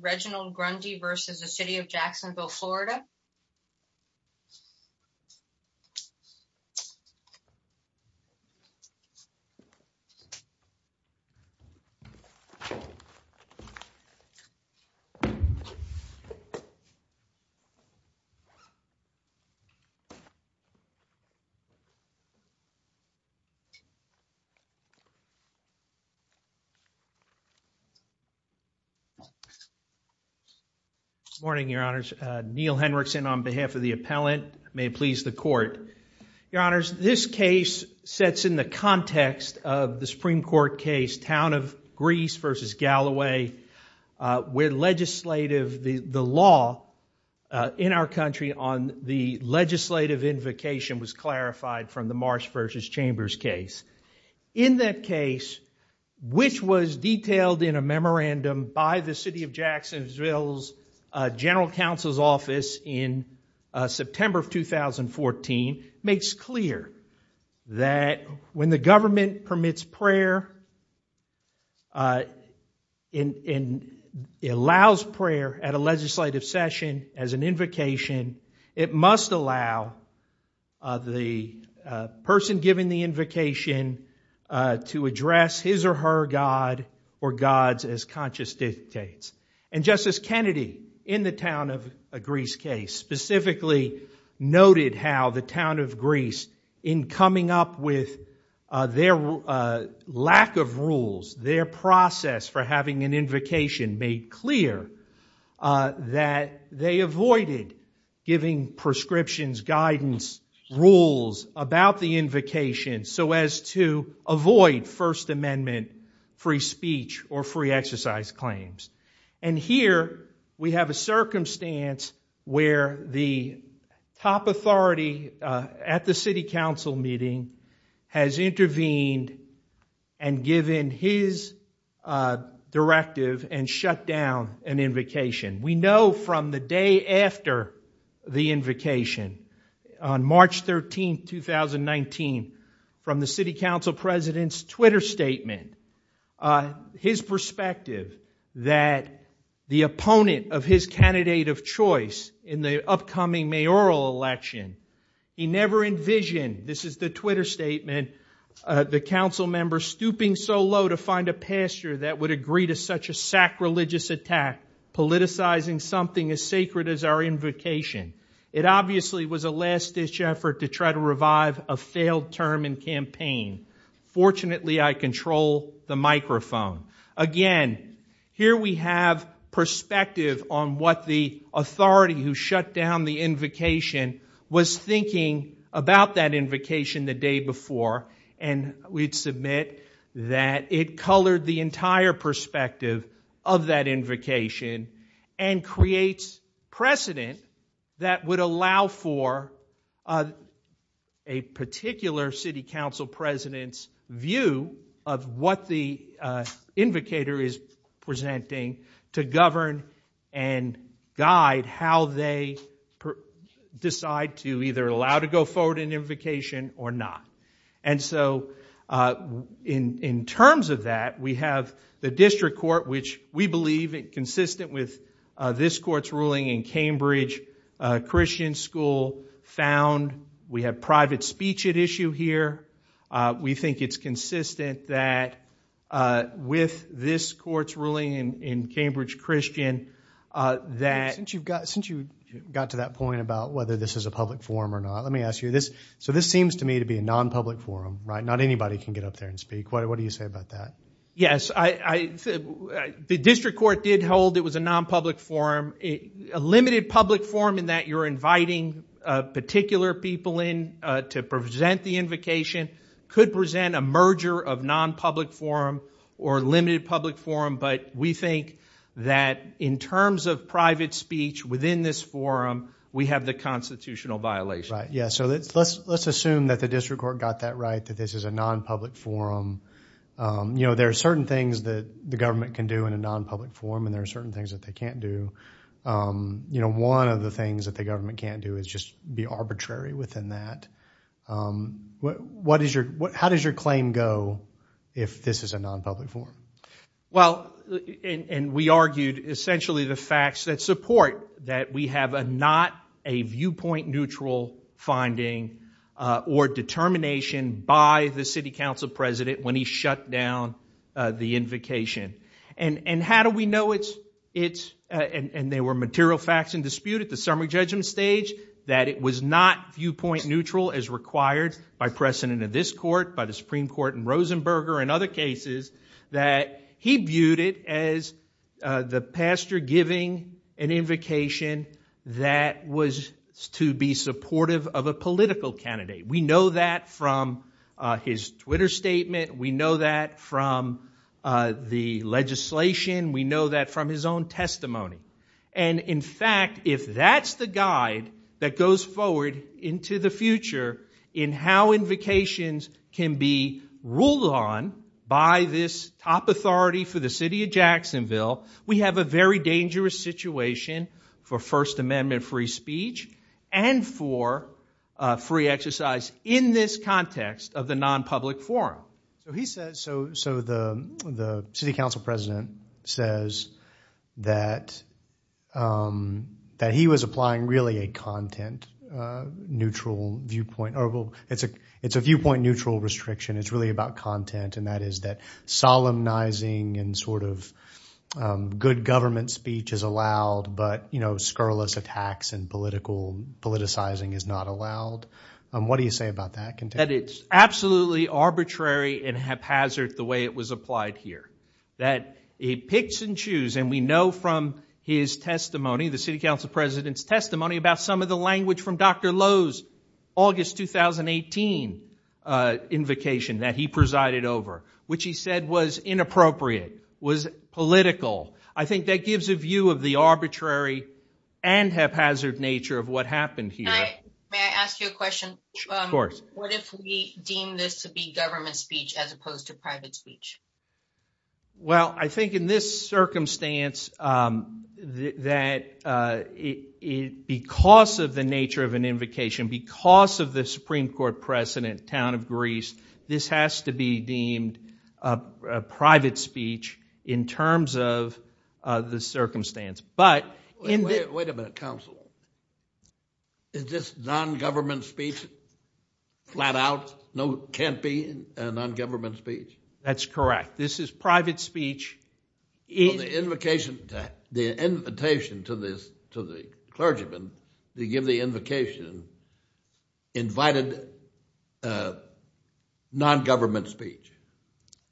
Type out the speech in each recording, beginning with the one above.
Reginald Gundy v. City of Jacksonville, Florida Reginald Gundy v. City of Jacksonville, Florida Good morning, your honors. Neil Henrickson on behalf of the appellant. May it please the court. Your honors, this case sets in the context of the Supreme Court case, Town of Greece v. Galloway, where legislative, the law in our country on the legislative invocation was clarified from the Marsh v. Chambers case. In that case, which was detailed in a memorandum by the City of Jacksonville's general counsel's office in September of 2014, makes clear that when the government permits prayer and allows prayer at a legislative session as an invocation, it must allow the person giving the invocation to address his or her god or gods as conscious dictates. And Justice Kennedy, in the Town of Greece case, specifically noted how the Town of Greece, in coming up with their lack of rules, their process for having an invocation, made clear that they avoided giving prescriptions, guidance, rules about the invocation so as to avoid First Amendment free speech or free exercise claims. And here, we have a circumstance where the top authority at the city council meeting has intervened and given his directive and shut down an invocation. We know from the day after the invocation, on March 13, 2019, from the city council president's Twitter statement, his perspective that the opponent of his candidate of choice in the upcoming mayoral election, he never envisioned, this is the Twitter statement, the council members stooping so low to find a pastor that would agree to such a sacrilegious attack, politicizing something as sacred as our invocation. It obviously was a last-ditch effort to try to revive a failed term in campaign. Fortunately, I control the microphone. Again, here we have perspective on what the authority who shut down the invocation was thinking about that invocation the day before. And we'd submit that it colored the entire perspective of that invocation and creates precedent that would allow for a particular city council president's view of what the invocator is presenting to govern and guide how they decide to either allow to go forward in invocation or not. And so in terms of that, we have the district court, which we believe, consistent with this court's ruling in Cambridge Christian School, found. We have private speech at issue here. We think it's consistent that, with this court's ruling in Cambridge Christian, that. Since you got to that point about whether this is a public forum or not, let me ask you this. So this seems to me to be a non-public forum, right? Not anybody can get up there and speak. What do you say about that? Yes, the district court did hold it was a non-public forum. A limited public forum in that you're inviting particular people in to present the invocation could present a merger of non-public forum or limited public forum. But we think that, in terms of private speech within this forum, we have the constitutional violation. Right, yeah. So let's assume that the district court got that right, that this is a non-public forum. There are certain things that the government can do in a non-public forum. And there are certain things that they can't do. One of the things that the government can't do is just be arbitrary within that. How does your claim go if this is a non-public forum? Well, and we argued, essentially, the facts that support that we have not a viewpoint-neutral finding or determination by the city council president when he shut down the invocation. And how do we know it's, and there were material facts in dispute at the summary judgment stage, that it was not viewpoint-neutral as required by precedent of this court, by the Supreme Court and Rosenberger and other cases, that he viewed it as the pastor giving an invocation that was to be supportive of a political candidate. We know that from his Twitter statement. We know that from the legislation. We know that from his own testimony. And in fact, if that's the guide that goes forward into the future in how invocations can be ruled on by this top authority for the city of Jacksonville, we have a very dangerous situation for First Amendment free speech and for free exercise in this context of the non-public forum. So he says, so the city council president says that he was applying really a content-neutral viewpoint, or it's a viewpoint-neutral restriction. It's really about content. And that is that solemnizing and sort of good government speech is allowed, but scurrilous attacks and politicizing is not allowed. What do you say about that? That it's absolutely arbitrary and haphazard the way it was applied here, that it picks and choose. And we know from his testimony, the city council president's testimony, about some of the language from Dr. Lowe's August 2018 invocation that he presided over, which he said was inappropriate, was political. I think that gives a view of the arbitrary and haphazard nature of what happened here. May I ask you a question? Of course. What if we deem this to be government speech as opposed to private speech? Well, I think in this circumstance, that because of the nature of an invocation, because of the Supreme Court precedent, town of Greece, this has to be deemed a private speech in terms of the circumstance. But in the- Wait a minute, counsel. Is this non-government speech, flat out, no, can't be a non-government speech? That's correct. This is private speech. In the invocation, the invitation to the clergyman, they give the invocation, invited non-government speech.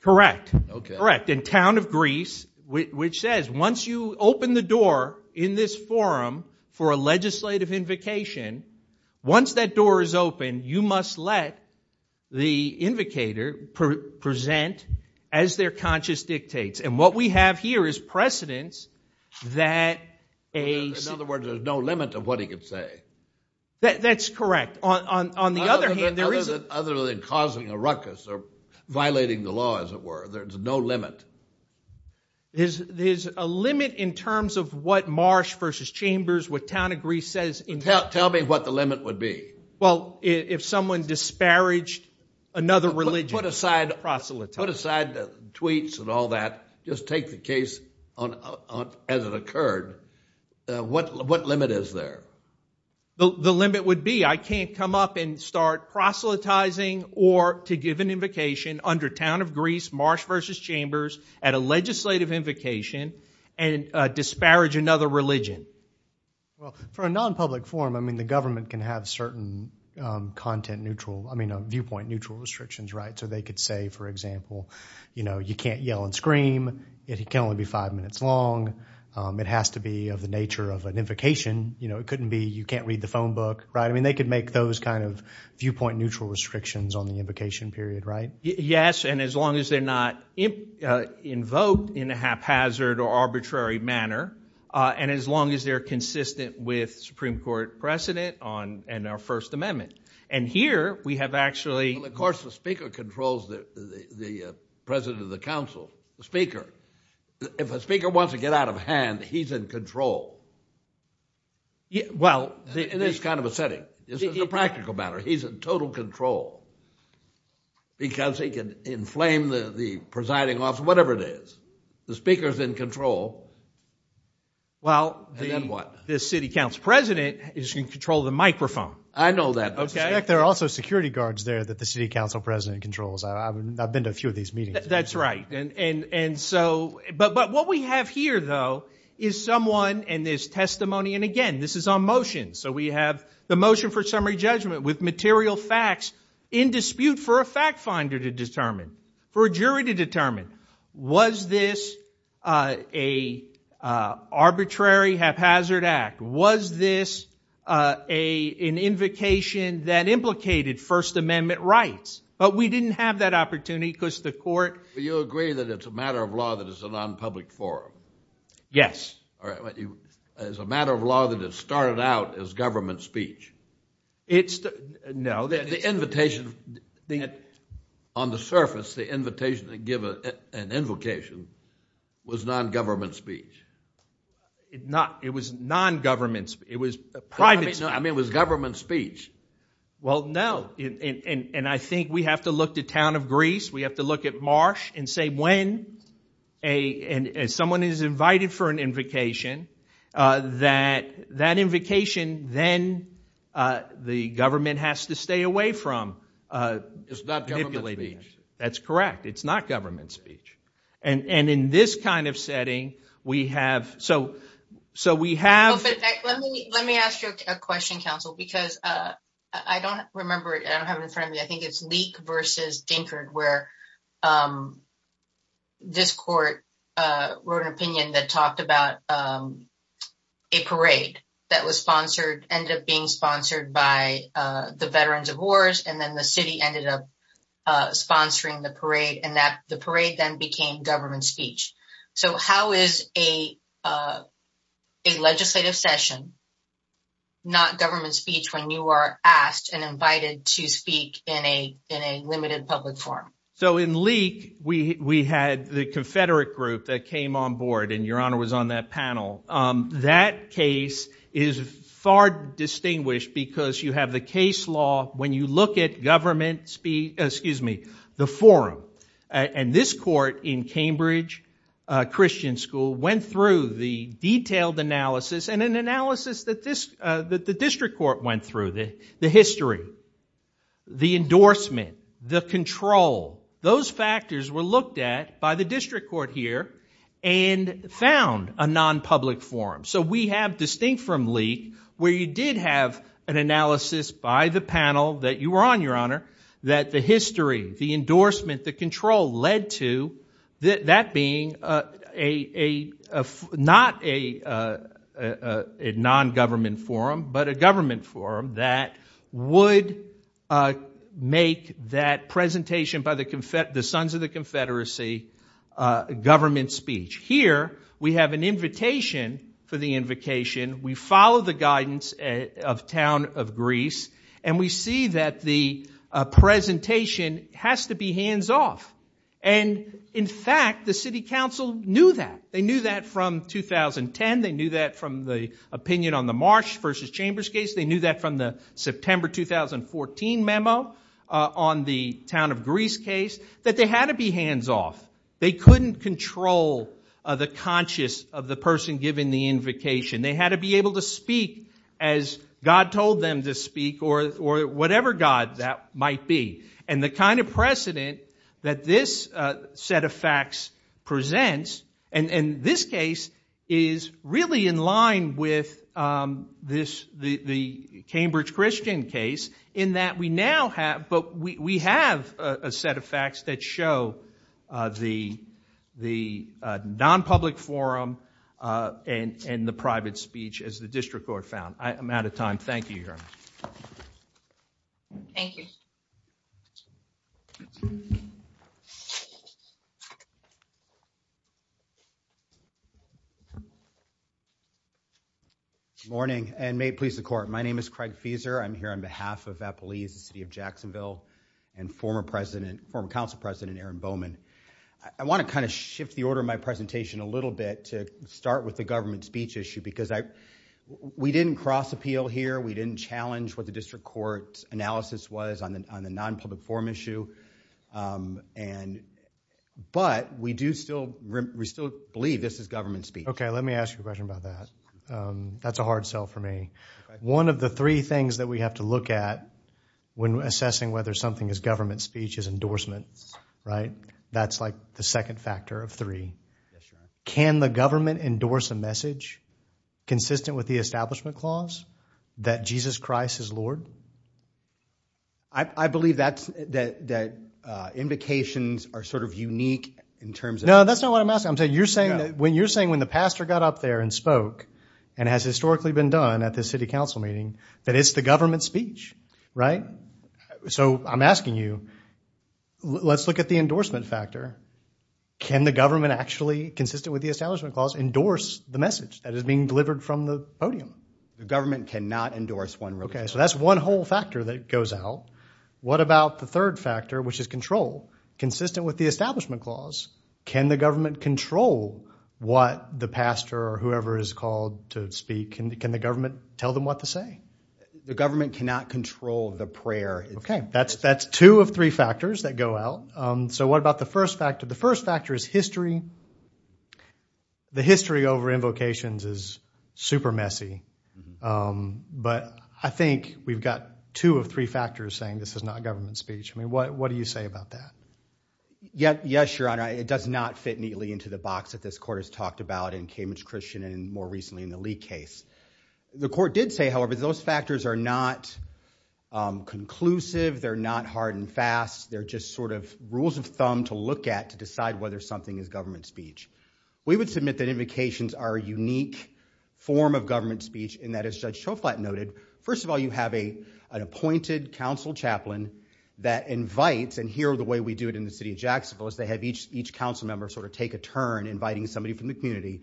Correct. And town of Greece, which says, once you open the door in this forum for a legislative invocation, once that door is open, you must let the invocator present as their conscious dictates. And what we have here is precedents that a- In other words, there's no limit of what he could say. That's correct. On the other hand, there is a- Other than causing a ruckus or violating the law, as it were. There's no limit. There's a limit in terms of what Marsh versus Chambers, what town of Greece says- Tell me what the limit would be. Well, if someone disparaged another religion- Put aside tweets and all that. Just take the case as it occurred. What limit is there? The limit would be, I can't come up and start proselytizing or to give an invocation under town of Greece, Marsh versus Chambers, at a legislative invocation, and disparage another religion. Well, for a non-public forum, I mean, the government can have certain content neutral- I mean, viewpoint neutral restrictions, right? So they could say, for example, you know, you can't yell and scream, it can only be five minutes long, it has to be of the nature of an invocation. You know, it couldn't be you can't read the phone book, right? I mean, they could make those kind of viewpoint neutral restrictions on the invocation period, right? Yes, and as long as they're not invoked in a haphazard or arbitrary manner, and as long as they're consistent with Supreme Court precedent on, and our First Amendment. And here, we have actually- Well, of course, the speaker controls the president of the council, the speaker. If a speaker wants to get out of hand, he's in control. Well- In this kind of a setting. This is a practical matter. He's in total control, because he can inflame the presiding officer, whatever it is. The speaker's in control. Well, then what? The city council president is in control of the microphone. I know that, but there are also security guards there that the city council president controls. I've been to a few of these meetings. That's right, and so, but what we have here, though, is someone in this testimony, and again, this is on motion. So we have the motion for summary judgment with material facts in dispute for a fact finder to determine, for a jury to determine, was this a arbitrary haphazard act? Was this an invocation that implicated First Amendment rights? But we didn't have that opportunity, because the court- Do you agree that it's a matter of law that it's a non-public forum? Yes. It's a matter of law that it started out as government speech. It's the, no, that- The invitation, on the surface, the invitation to give an invocation was non-government speech. It was non-government speech. It was private speech. I mean, it was government speech. Well, no, and I think we have to look to town of Greece. We have to look at Marsh and say when someone is invited for an invocation, that that invocation, then, the government has to stay away from. It's not government speech. That's correct. It's not government speech. And in this kind of setting, we have, so we have- Let me ask you a question, counsel, because I don't remember, and I don't have it in front of me, I think it's Leake versus Dinkard, where this court wrote an opinion that talked about a parade that was sponsored, ended up being sponsored by the Veterans of Wars, and then the city ended up sponsoring the parade, and that the parade then became government speech. So how is a legislative session not government speech when you are asked and invited to speak in a limited public forum? So in Leake, we had the Confederate group that came on board, and your honor was on that panel. That case is far distinguished because you have the case law, when you look at government speech, excuse me, the forum, and this court in Cambridge Christian School went through the detailed analysis, and an analysis that the district court went through, the history, the endorsement, the control, those factors were looked at by the district court here, and found a non-public forum. So we have distinct from Leake, where you did have an analysis by the panel that you were on, your honor, that the history, the endorsement, the control led to that being a, not a non-government forum, but a government forum that would make that presentation by the sons of the Confederacy government speech. Here, we have an invitation for the invocation. We follow the guidance of Town of Greece, and we see that the presentation has to be hands-off. And in fact, the city council knew that. They knew that from 2010. They knew that from the opinion on the Marsh versus Chambers case. They knew that from the September 2014 memo on the Town of Greece case, that they had to be hands-off. They couldn't control the conscious of the person giving the invocation. They had to be able to speak as God told them to speak, or whatever God that might be. And the kind of precedent that this set of facts presents, and this case is really in line with this, the Cambridge Christian case, in that we now have, but we have a set of facts that show the non-public forum and the private speech as the district court found. I'm out of time. Thank you, your honor. Thank you. Good morning, and may it please the court. My name is Craig Fieser. I'm here on behalf of Appalachia City of Jacksonville and former president, former council president, Aaron Bowman. I want to kind of shift the order of my presentation a little bit to start with the government speech issue, because we didn't cross appeal here. We didn't challenge what the district court's analysis was on the non-public forum issue. And but we do still believe this is government speech. OK, let me ask you a question about that. That's a hard sell for me. One of the three things that we have to look at when assessing whether something is government speech is endorsements, right? That's like the second factor of three. Can the government endorse a message consistent with the Establishment Clause that Jesus Christ is Lord? I believe that invocations are sort of unique in terms of- No, that's not what I'm asking. When you're saying when the pastor got up there and spoke, and has historically been done at the city council meeting, that it's the government speech, right? So I'm asking you, let's look at the endorsement factor. Can the government actually, consistent with the Establishment Clause, endorse the message that is being delivered from the podium? The government cannot endorse one religion. OK, so that's one whole factor that goes out. What about the third factor, which is control, consistent with the Establishment Clause? Can the government control what the pastor or whoever is called to speak? Can the government tell them what to say? The government cannot control the prayer. OK, that's two of three factors that go out. So what about the first factor? The first factor is history. The history over invocations is super messy. But I think we've got two of three factors saying this is not government speech. I mean, what do you say about that? Yes, Your Honor. It does not fit neatly into the box that this court has talked about in Cambridge Christian, and more recently in the Lee case. The court did say, however, those factors are not conclusive. They're not hard and fast. They're just sort of rules of thumb to look at to decide whether something is government speech. We would submit that invocations are a unique form of government speech in that, as Judge Schoflat noted, first of all, you have an appointed council chaplain that invites, and here the way we do it in the city of Jacksonville is they have each council member sort of take a turn inviting somebody from the community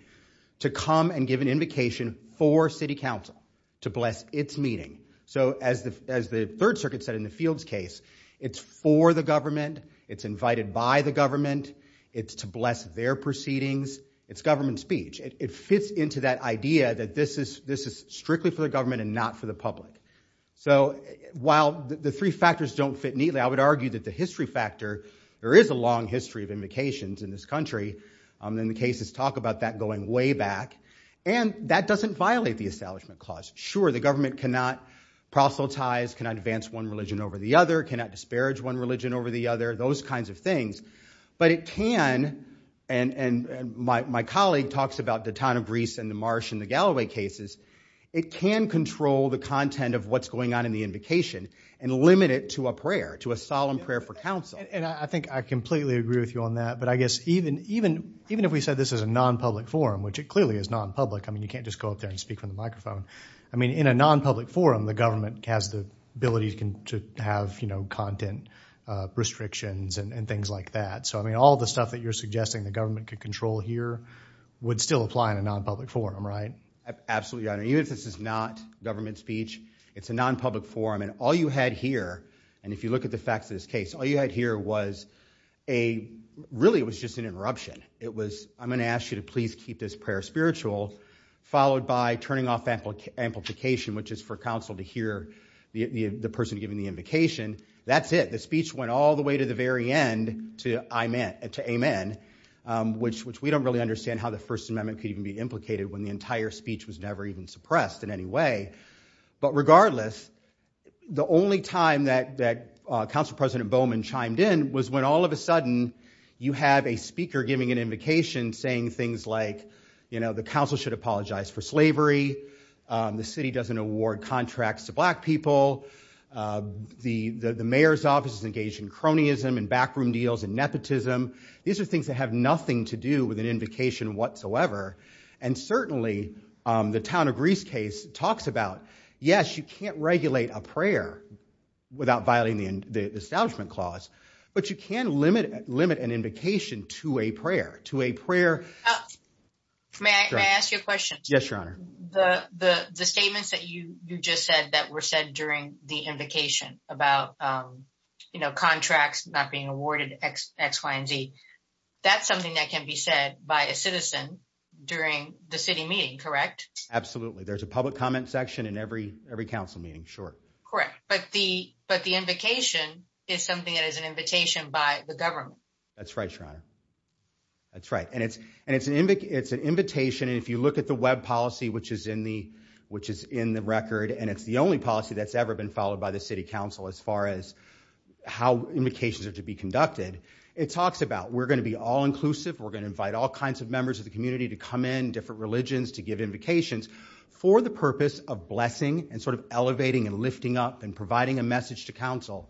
to come and give an invocation for city council to bless its meeting. So as the Third Circuit said in the Fields case, it's for the government. It's invited by the government. It's to bless their proceedings. It's government speech. It fits into that idea that this is strictly for the government and not for the public. So while the three factors don't fit neatly, I would argue that the history factor, there is a long history of invocations in this country. And the cases talk about that going way back. And that doesn't violate the Establishment Clause. Sure, the government cannot proselytize, cannot advance one religion over the other, cannot disparage one religion over the other, those kinds of things. But it can, and my colleague talks about the town of Greece and the marsh in the Galloway cases, it can control the content of what's going on in the invocation and limit it to a prayer, to a solemn prayer for council. And I think I completely agree with you on that. But I guess even if we said this is a non-public forum, which it clearly is non-public. I mean, you can't just go up there and speak from the microphone. I mean, in a non-public forum, the government has the ability to have content restrictions and things like that. So I mean, all the stuff that you're suggesting the government could control here would still apply in a non-public forum, right? Absolutely. Even if this is not government speech, it's a non-public forum. And all you had here, and if you look at the facts of this case, all you had here was a, really it was just an interruption. It was, I'm going to ask you to please keep this prayer spiritual, followed by turning off amplification, which is for council to hear the person giving the invocation. That's it. The speech went all the way to the very end, to amen, which we don't really understand how the First Amendment could even be implicated when the entire speech was never even suppressed in any way. But regardless, the only time that Council President Bowman chimed in was when all of a sudden, you have a speaker giving an invocation saying things like, the council should apologize for slavery. The city doesn't award contracts to black people. The mayor's office is engaged in cronyism, and backroom deals, and nepotism. These are things that have nothing to do with an invocation whatsoever. And certainly, the town of Grease case talks about, yes, you can't regulate a prayer without violating the Establishment Clause. But you can limit an invocation to a prayer, to a prayer. May I ask you a question? Yes, Your Honor. The statements that you just said that were said during the invocation about contracts not being awarded, x, y, and z, that's something that can be said by a citizen during the city meeting, correct? Absolutely. There's a public comment section in every council meeting, sure. Correct. But the invocation is something that is an invitation by the government. That's right, Your Honor. That's right. And it's an invitation. And if you look at the web policy, which is in the record, and it's the only policy that's ever been followed by the city council as far as how invocations are to be conducted, it talks about, we're going to be all-inclusive. We're going to invite all kinds of members of the community to come in, different religions, to give invocations for the purpose of blessing, and elevating, and lifting up, and providing a message to council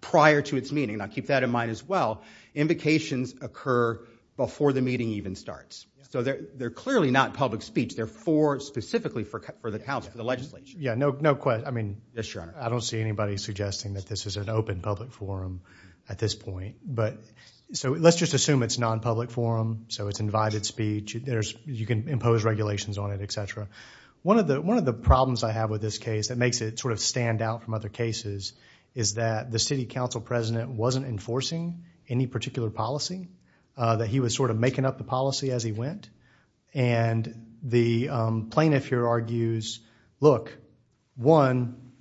prior to its meeting. Now, keep that in mind as well. Invocations occur before the meeting even starts. So they're clearly not public speech. They're for specifically for the council, the legislation. Yeah, no question. I mean, I don't see anybody suggesting that this is an open public forum at this point. So let's just assume it's non-public forum. So it's invited speech. You can impose regulations on it, et cetera. One of the problems I have with this case that makes it sort of stand out from other cases is that the city council president wasn't enforcing any particular policy, that he was sort of making up the policy as he went. And the plaintiff here argues, look, one,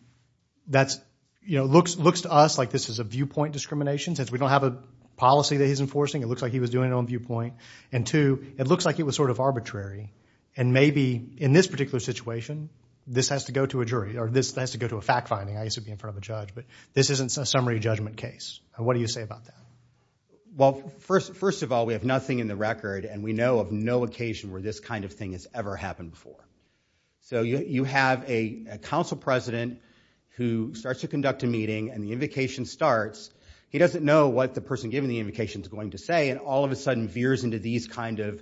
that's, you know, looks to us like this is a viewpoint discrimination, since we don't have a policy that he's enforcing. It looks like he was doing it on viewpoint. And two, it looks like it was sort of arbitrary. And maybe in this particular situation, this has to go to a jury, or this has to go to a fact finding. I used to be in front of a judge. But this isn't a summary judgment case. What do you say about that? Well, first of all, we have nothing in the record. And we know of no occasion where this kind of thing has ever happened before. So you have a council president who starts to conduct a meeting. And the invocation starts. He doesn't know what the person giving the invocation is going to say. And all of a sudden, veers into these kind of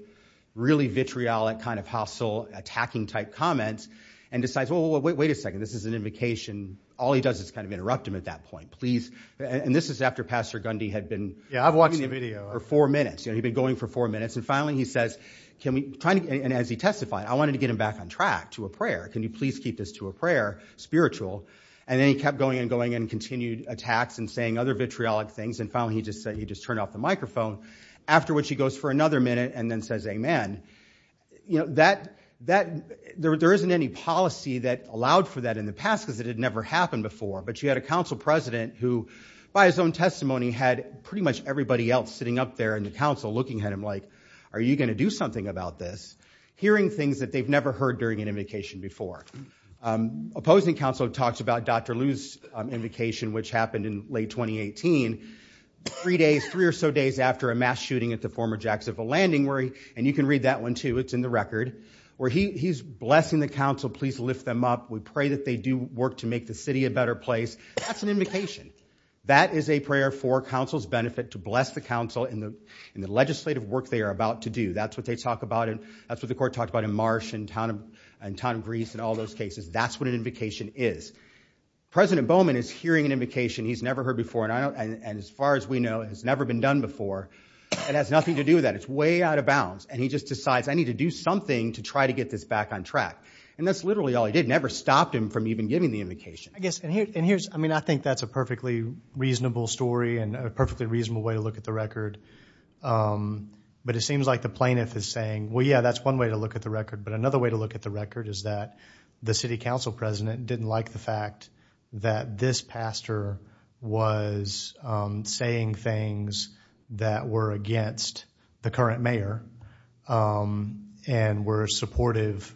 really vitriolic kind of hostile, attacking type comments, and decides, well, wait a second. This is an invocation. All he does is kind of interrupt him at that point. And this is after Pastor Gundy had been doing the video for four minutes. He'd been going for four minutes. And finally, he says, can we try to get him back on track to a prayer? Can you please keep this to a prayer, spiritual? And then he kept going and going and continued attacks and saying other vitriolic things. And finally, he just said he just turned off the microphone, after which he goes for another minute and then says amen. There isn't any policy that allowed for that in the past, because it had never happened before. But you had a council president who, by his own testimony, had pretty much everybody else sitting up there in the council looking at him like, are you going to do something about this? Hearing things that they've never heard during an invocation before. Opposing council talks about Dr. Liu's invocation, which happened in late 2018, three or so days after a mass shooting at the former Jacksonville Landing. And you can read that one, too. It's in the record, where he's blessing the council, please lift them up. We pray that they do work to make the city a better place. That's an invocation. That is a prayer for council's benefit to bless the council in the legislative work they are about to do. That's what they talk about. And that's what the court talked about in Marsh and in town of Greece and all those cases. That's what an invocation is. President Bowman is hearing an invocation he's never heard before. And as far as we know, it has never been done before. It has nothing to do with that. It's way out of bounds. And he just decides, I need to do something to try to get this back on track. And that's literally all he did. Never stopped him from even giving the invocation. I guess, and here's, I mean, I think that's a perfectly reasonable story and a perfectly reasonable way to look at the record. But it seems like the plaintiff is saying, well, yeah, that's one way to look at the record. But another way to look at the record is that the city council president didn't like the fact that this pastor was saying things that were supportive,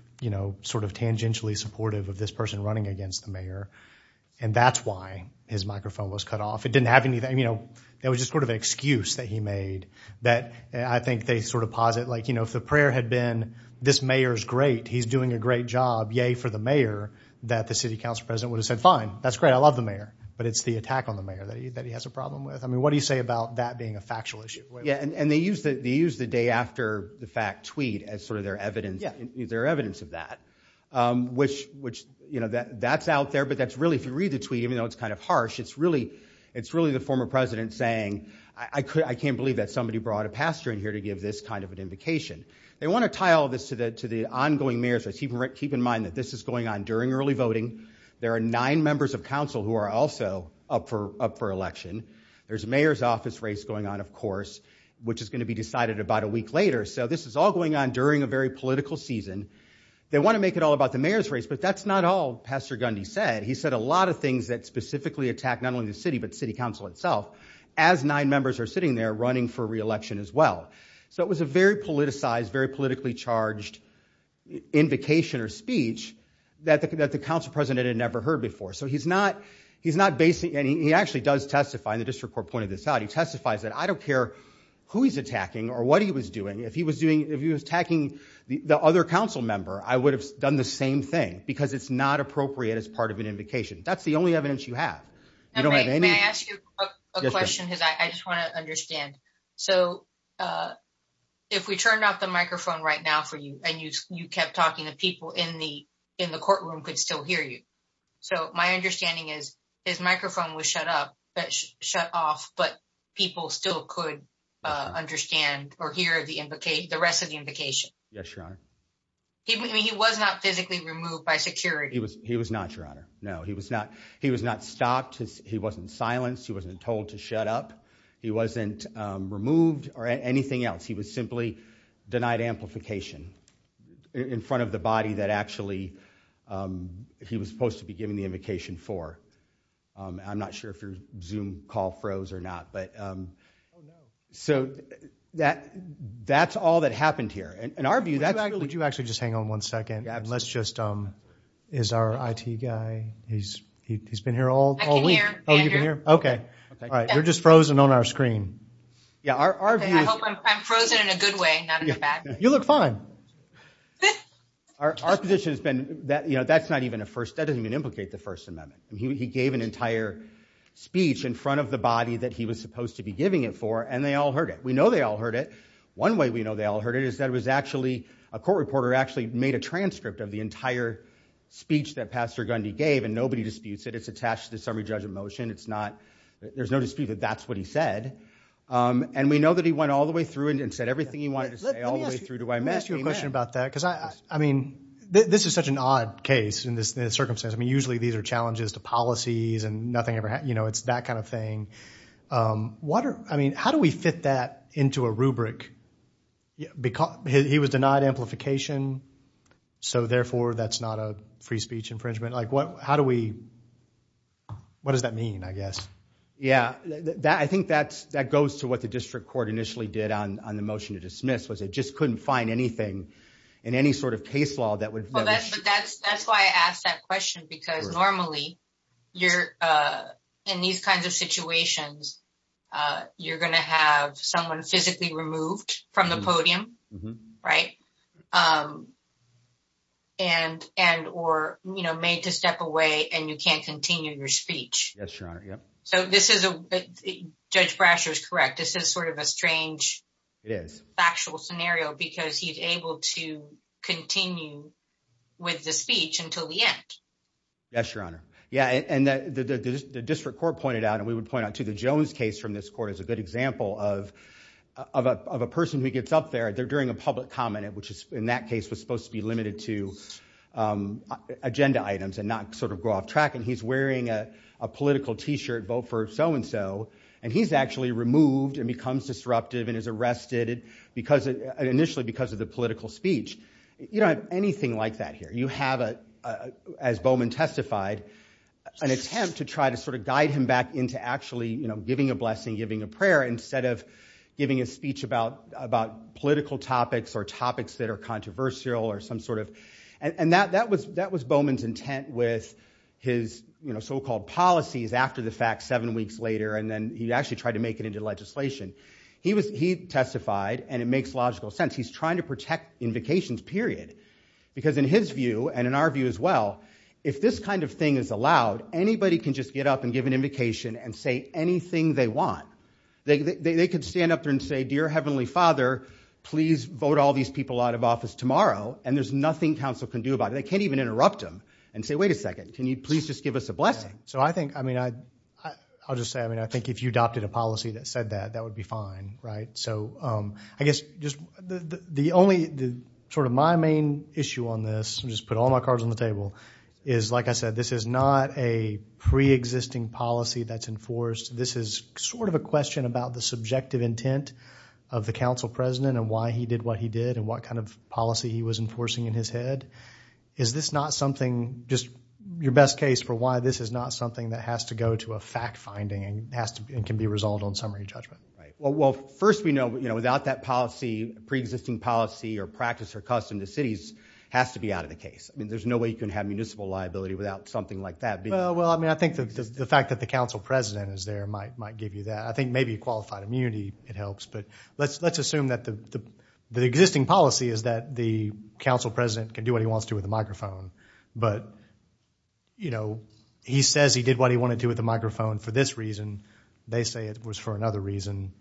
sort of tangentially supportive of this person running against the mayor. And that's why his microphone was cut off. It didn't have anything, it was just sort of an excuse that he made that I think they sort of posit, like if the prayer had been, this mayor is great, he's doing a great job, yay for the mayor, that the city council president would have said, fine, that's great, I love the mayor. But it's the attack on the mayor that he has a problem with. I mean, what do you say about that being a factual issue? And they use the day after the fact tweet as sort of their evidence of that, which that's out there. But that's really, if you read the tweet, even though it's kind of harsh, it's really the former president saying, I can't believe that somebody brought a pastor in here to give this kind of an invocation. They want to tie all this to the ongoing mayor's race. Keep in mind that this is going on during early voting. There are nine members of council who are also up for election. There's a mayor's office race going on, of course, which is going to be decided about a week later. So this is all going on during a very political season. They want to make it all about the mayor's race, but that's not all Pastor Gundy said. He said a lot of things that specifically attack not only the city, but city council itself, as nine members are sitting there running for re-election as well. So it was a very politicized, very politically charged invocation or speech that the council president had never heard before. So he's not basing, and he actually He testifies that I don't care who he's attacking or what he was doing. If he was doing, if he was attacking the other council member, I would have done the same thing because it's not appropriate as part of an invocation. That's the only evidence you have. You don't have any. May I ask you a question? Because I just want to understand. So if we turned off the microphone right now for you and you kept talking, the people in the courtroom could still hear you. So my understanding is his microphone was shut off, but people still could understand or hear the rest of the invocation. Yes, Your Honor. He was not physically removed by security. He was not, Your Honor. No, he was not. He was not stopped. He wasn't silenced. He wasn't told to shut up. He wasn't removed or anything else. He was simply denied amplification in front of the body that actually he was supposed to be giving the invocation for. I'm not sure if your Zoom call froze or not. But so that's all that happened here. In our view, that's really- Would you actually just hang on one second? Let's just, is our IT guy, he's been here all week. I can hear, Andrew. OK. All right, you're just frozen on our screen. Yeah, our view is- I hope I'm frozen in a good way, not in a bad way. You look fine. Our position has been that that's not even a first, that doesn't even implicate the First Amendment. He gave an entire speech in front of the body that he was supposed to be giving it for, and they all heard it. We know they all heard it. One way we know they all heard it is that it was actually, a court reporter actually made a transcript of the entire speech that Pastor Gundy gave, and nobody disputes it. It's attached to the summary judge of motion. It's not, there's no dispute that that's what he said. And we know that he went all the way through it and said everything he wanted to say all the way through to I met him. Let me ask you a question about that, because I mean, this is such an odd case in this circumstance. I mean, usually these are challenges to policies and nothing ever, you know, it's that kind of thing. What are, I mean, how do we fit that into a rubric? He was denied amplification, so therefore that's not a free speech infringement. Like what, how do we, what does that mean, I guess? Yeah, that, I think that's, that goes to what the district court initially did on the motion to dismiss, was it just couldn't find anything in any sort of case law that would. But that's, that's why I asked that question because normally you're in these kinds of situations, you're gonna have someone physically removed from the podium, right? And, and, or, you know, made to step away and you can't continue your speech. Yes, Your Honor, yep. So this is a, Judge Brasher's correct. This is sort of a strange. It is. Factual scenario because he's able to continue with the speech until the end. Yes, Your Honor. Yeah, and the district court pointed out, and we would point out too, the Jones case from this court is a good example of a person who gets up there, they're during a public comment, which is in that case was supposed to be limited to agenda items and not sort of go off track. And he's wearing a political t-shirt, vote for so-and-so, and he's actually removed and becomes disruptive and is arrested because initially because of the political speech. You don't have anything like that here. You have a, as Bowman testified, an attempt to try to sort of guide him back into actually, you know, giving a blessing, giving a prayer instead of giving a speech about political topics or topics that are controversial or some sort of, and that was Bowman's intent with his, you know, so-called policies after the fact seven weeks later and then he actually tried to make it into legislation. He testified and it makes logical sense. He's trying to protect invocations, period. Because in his view and in our view as well, if this kind of thing is allowed, anybody can just get up and give an invocation and say anything they want. They could stand up there and say, dear heavenly father, please vote all these people out of office tomorrow and there's nothing council can do about it. They can't even interrupt him and say, wait a second, can you please just give us a blessing? So I think, I mean, I'll just say, I mean, I think if you adopted a policy that said that, that would be fine, right? So I guess just the only, sort of my main issue on this, I'll just put all my cards on the table, is like I said, this is not a pre-existing policy that's enforced. This is sort of a question about the subjective intent of the council president and why he did what he did and what kind of policy he was enforcing in his head. Is this not something, just your best case for why this is not something that has to go to a fact finding and can be resolved on summary judgment? Right, well, first we know without that policy, pre-existing policy or practice or custom, the city has to be out of the case. I mean, there's no way you can have municipal liability without something like that being. Well, I mean, I think the fact that the council president is there might give you that. I think maybe a qualified immunity, it helps, but let's assume that the existing policy is that the council president can do what he wants to with a microphone, but he says he did what he wanted to with a microphone for this reason. They say it was for another reason.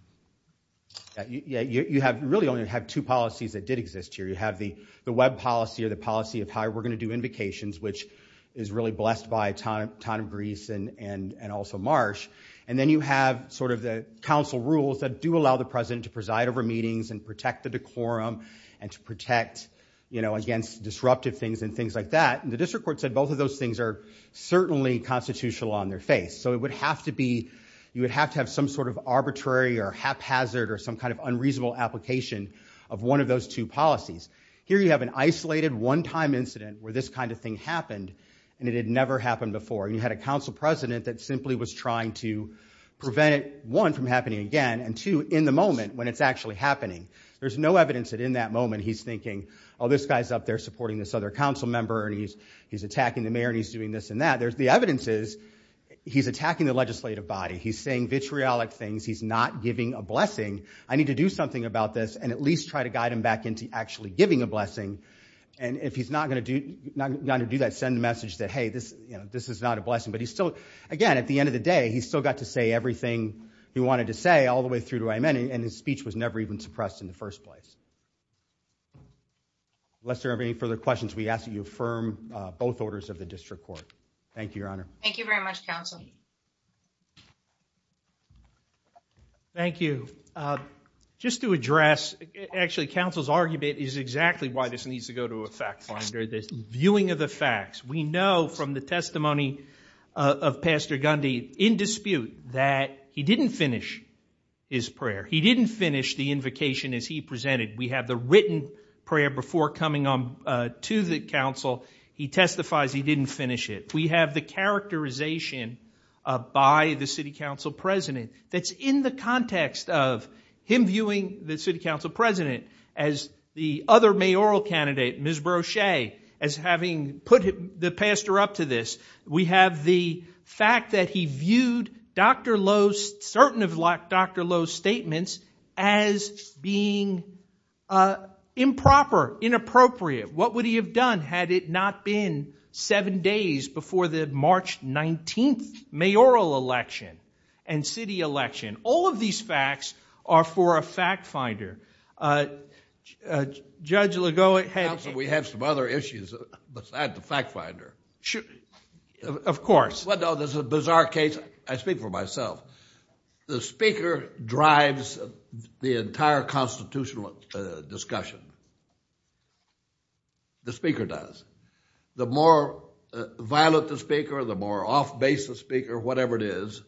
Yeah, you have really only have two policies that did exist here. You have the web policy or the policy of how we're gonna do invocations, which is really blessed by a ton of grease and also marsh. And then you have sort of the council rules that do allow the president to preside over meetings and protect the decorum and to protect, you know, against disruptive things and things like that. And the district court said both of those things are certainly constitutional on their face. So it would have to be, you would have to have some sort of arbitrary or haphazard or some kind of unreasonable application of one of those two policies. Here you have an isolated one-time incident where this kind of thing happened and it had never happened before. And you had a council president that simply was trying to prevent it, one, from happening again, and two, in the moment when it's actually happening. There's no evidence that in that moment he's thinking, oh, this guy's up there supporting this other council member and he's attacking the mayor and he's doing this and that. The evidence is he's attacking the legislative body. He's saying vitriolic things. He's not giving a blessing. I need to do something about this and at least try to guide him back into actually giving a blessing. And if he's not going to do that, send a message that, hey, this is not a blessing. But he's still, again, at the end of the day, he's still got to say everything he wanted to say all the way through to amen. And his speech was never even suppressed in the first place. Unless there are any further questions, we ask that you affirm both orders of the district court. Thank you, Your Honor. Thank you very much, counsel. Thank you. Just to address, actually, counsel's argument is exactly why this needs to go to a fact finder, this viewing of the facts. We know from the testimony of Pastor Gundy in dispute that he didn't finish his prayer. He didn't finish the invocation as he presented. We have the written prayer before coming to the council. He testifies he didn't finish it. We have the characterization by the city council president that's in the context of him viewing the city council president as the other mayoral candidate, Ms. Brochet, as having put the pastor up to this. We have the fact that he viewed Dr. Lowe's, certain of Dr. Lowe's statements, as being improper, inappropriate. What would he have done? Had it not been seven days before the March 19th mayoral election and city election? All of these facts are for a fact finder. Judge Lagoa had a case. Counsel, we have some other issues besides the fact finder. Of course. Well, no, this is a bizarre case. I speak for myself. The speaker drives the entire constitutional discussion. The speaker does. The more violent the speaker, the more off-base the speaker, whatever it is,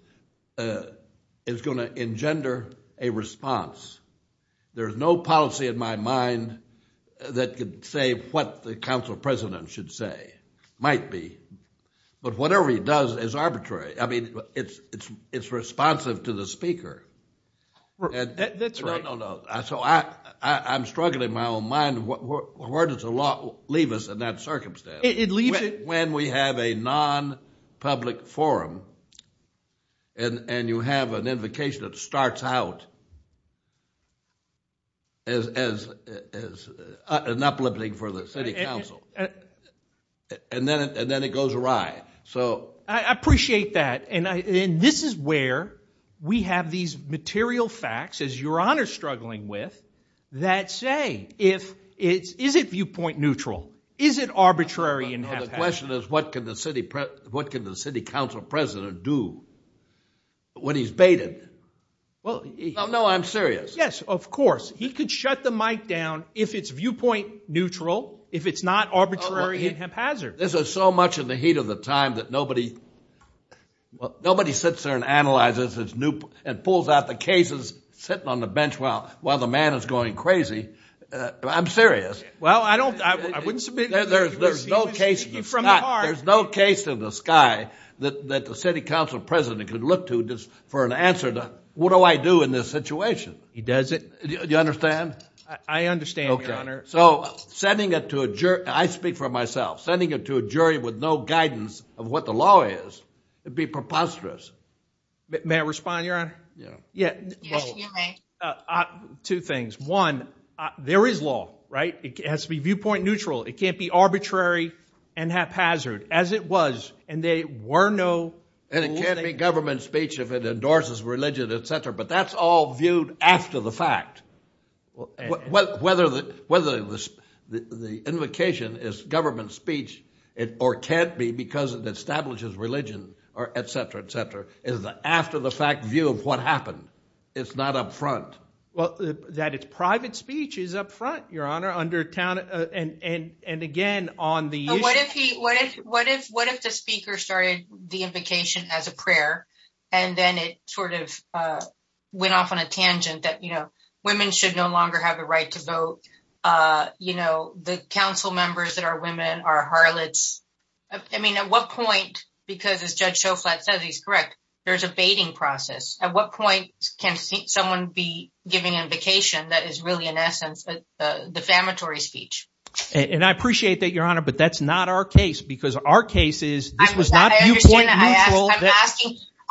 is going to engender a response. There is no policy in my mind that could say what the council president should say. Might be. But whatever he does is arbitrary. I mean, it's responsive to the speaker. That's right. No, no, no. So I'm struggling in my own mind. Where does the law leave us in that circumstance? It leaves it. When we have a non-public forum, and you have an invocation that starts out as an uplifting for the city council, and then it goes awry. I appreciate that. And this is where we have these material facts, as Your Honor's struggling with, that say, is it viewpoint neutral? Is it arbitrary and haphazard? The question is, what can the city council president do when he's baited? No, I'm serious. Yes, of course. He could shut the mic down if it's viewpoint neutral, if it's not arbitrary and haphazard. This is so much in the heat of the time that nobody sits there and analyzes and pulls out the cases sitting on the bench while the man is going crazy. I'm serious. Well, I wouldn't submit it. There's no case in the sky that the city council president could look to just for an answer to, what do I do in this situation? He does it. Do you understand? I understand, Your Honor. So sending it to a jury, and I speak for myself, sending it to a jury with no guidance of what the law is, it'd be preposterous. May I respond, Your Honor? Yes, you may. Two things. One, there is law, right? It has to be viewpoint neutral. It can't be arbitrary and haphazard, as it was. And there were no rules that you had to follow. And it can't be government speech if it endorses religion, et cetera. But that's all viewed after the fact. Whether the invocation is government speech, or can't be because it establishes religion, or et cetera, et cetera, is the after the fact view of what happened. It's not up front. Well, that it's private speech is up front, Your Honor, under town and again on the issue. What if the speaker started the invocation as a prayer, and then it sort of went off on a tangent that women should no longer have the right to vote? The council members that are women are harlots. I mean, at what point, because as Judge Shoflat says, he's correct, there's a baiting process. At what point can someone be giving an invocation that is really, in essence, a defamatory speech? And I appreciate that, Your Honor, but that's not our case. Because our case is, this was not viewpoint neutral.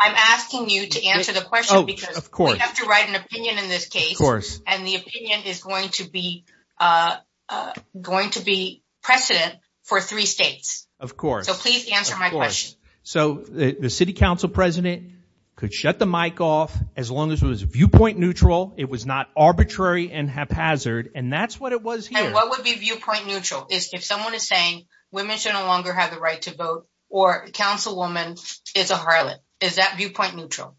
I'm asking you to answer the question, because we have to write an opinion in this case. And the opinion is going to be precedent for three states. Of course. So please answer my question. So the city council president could shut the mic off as long as it was viewpoint neutral. It was not arbitrary and haphazard. And that's what it was here. And what would be viewpoint neutral? If someone is saying women should no longer have the right to vote, or councilwoman is a harlot, is that viewpoint neutral?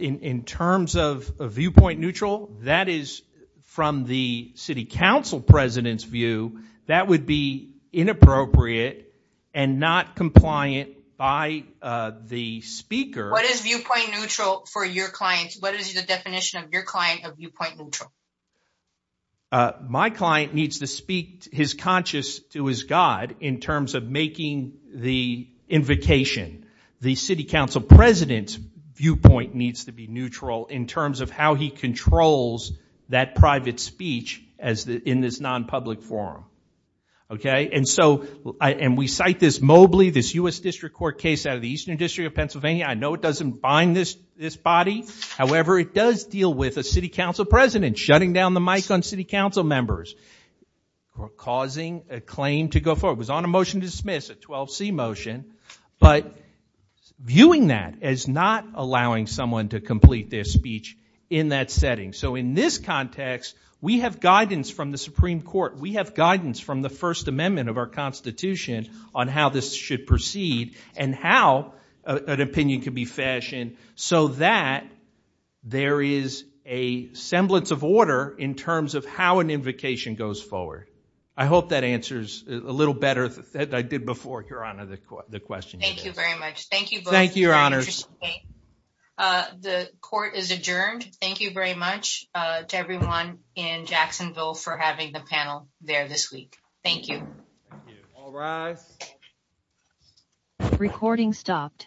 In terms of viewpoint neutral, that is, from the city council president's view, that would be inappropriate and not compliant by the speaker. What is viewpoint neutral for your clients? What is the definition of your client of viewpoint neutral? My client needs to speak his conscience to his god in terms of making the invocation. The city council president's viewpoint needs to be neutral in terms of how he controls that private speech in this non-public forum. And so we cite this Mobley, this US District Court case out of the Eastern District of Pennsylvania. I know it doesn't bind this body. However, it does deal with a city council president shutting down the mic on city council members or causing a claim to go forward. It was on a motion to dismiss, a 12C motion. But viewing that as not allowing someone to complete their speech in that setting. So in this context, we have guidance from the Supreme Court. We have guidance from the First Amendment of our Constitution on how this should proceed and how an opinion could be fashioned so that there is a semblance of order in terms of how an invocation goes forward. I hope that answers a little better than I did before, Your Honor, the question. Thank you very much. Thank you both. Thank you, Your Honors. The court is adjourned. Thank you very much to everyone in Jacksonville for having the panel there this week. Thank you. Thank you. All rise. Recording stopped.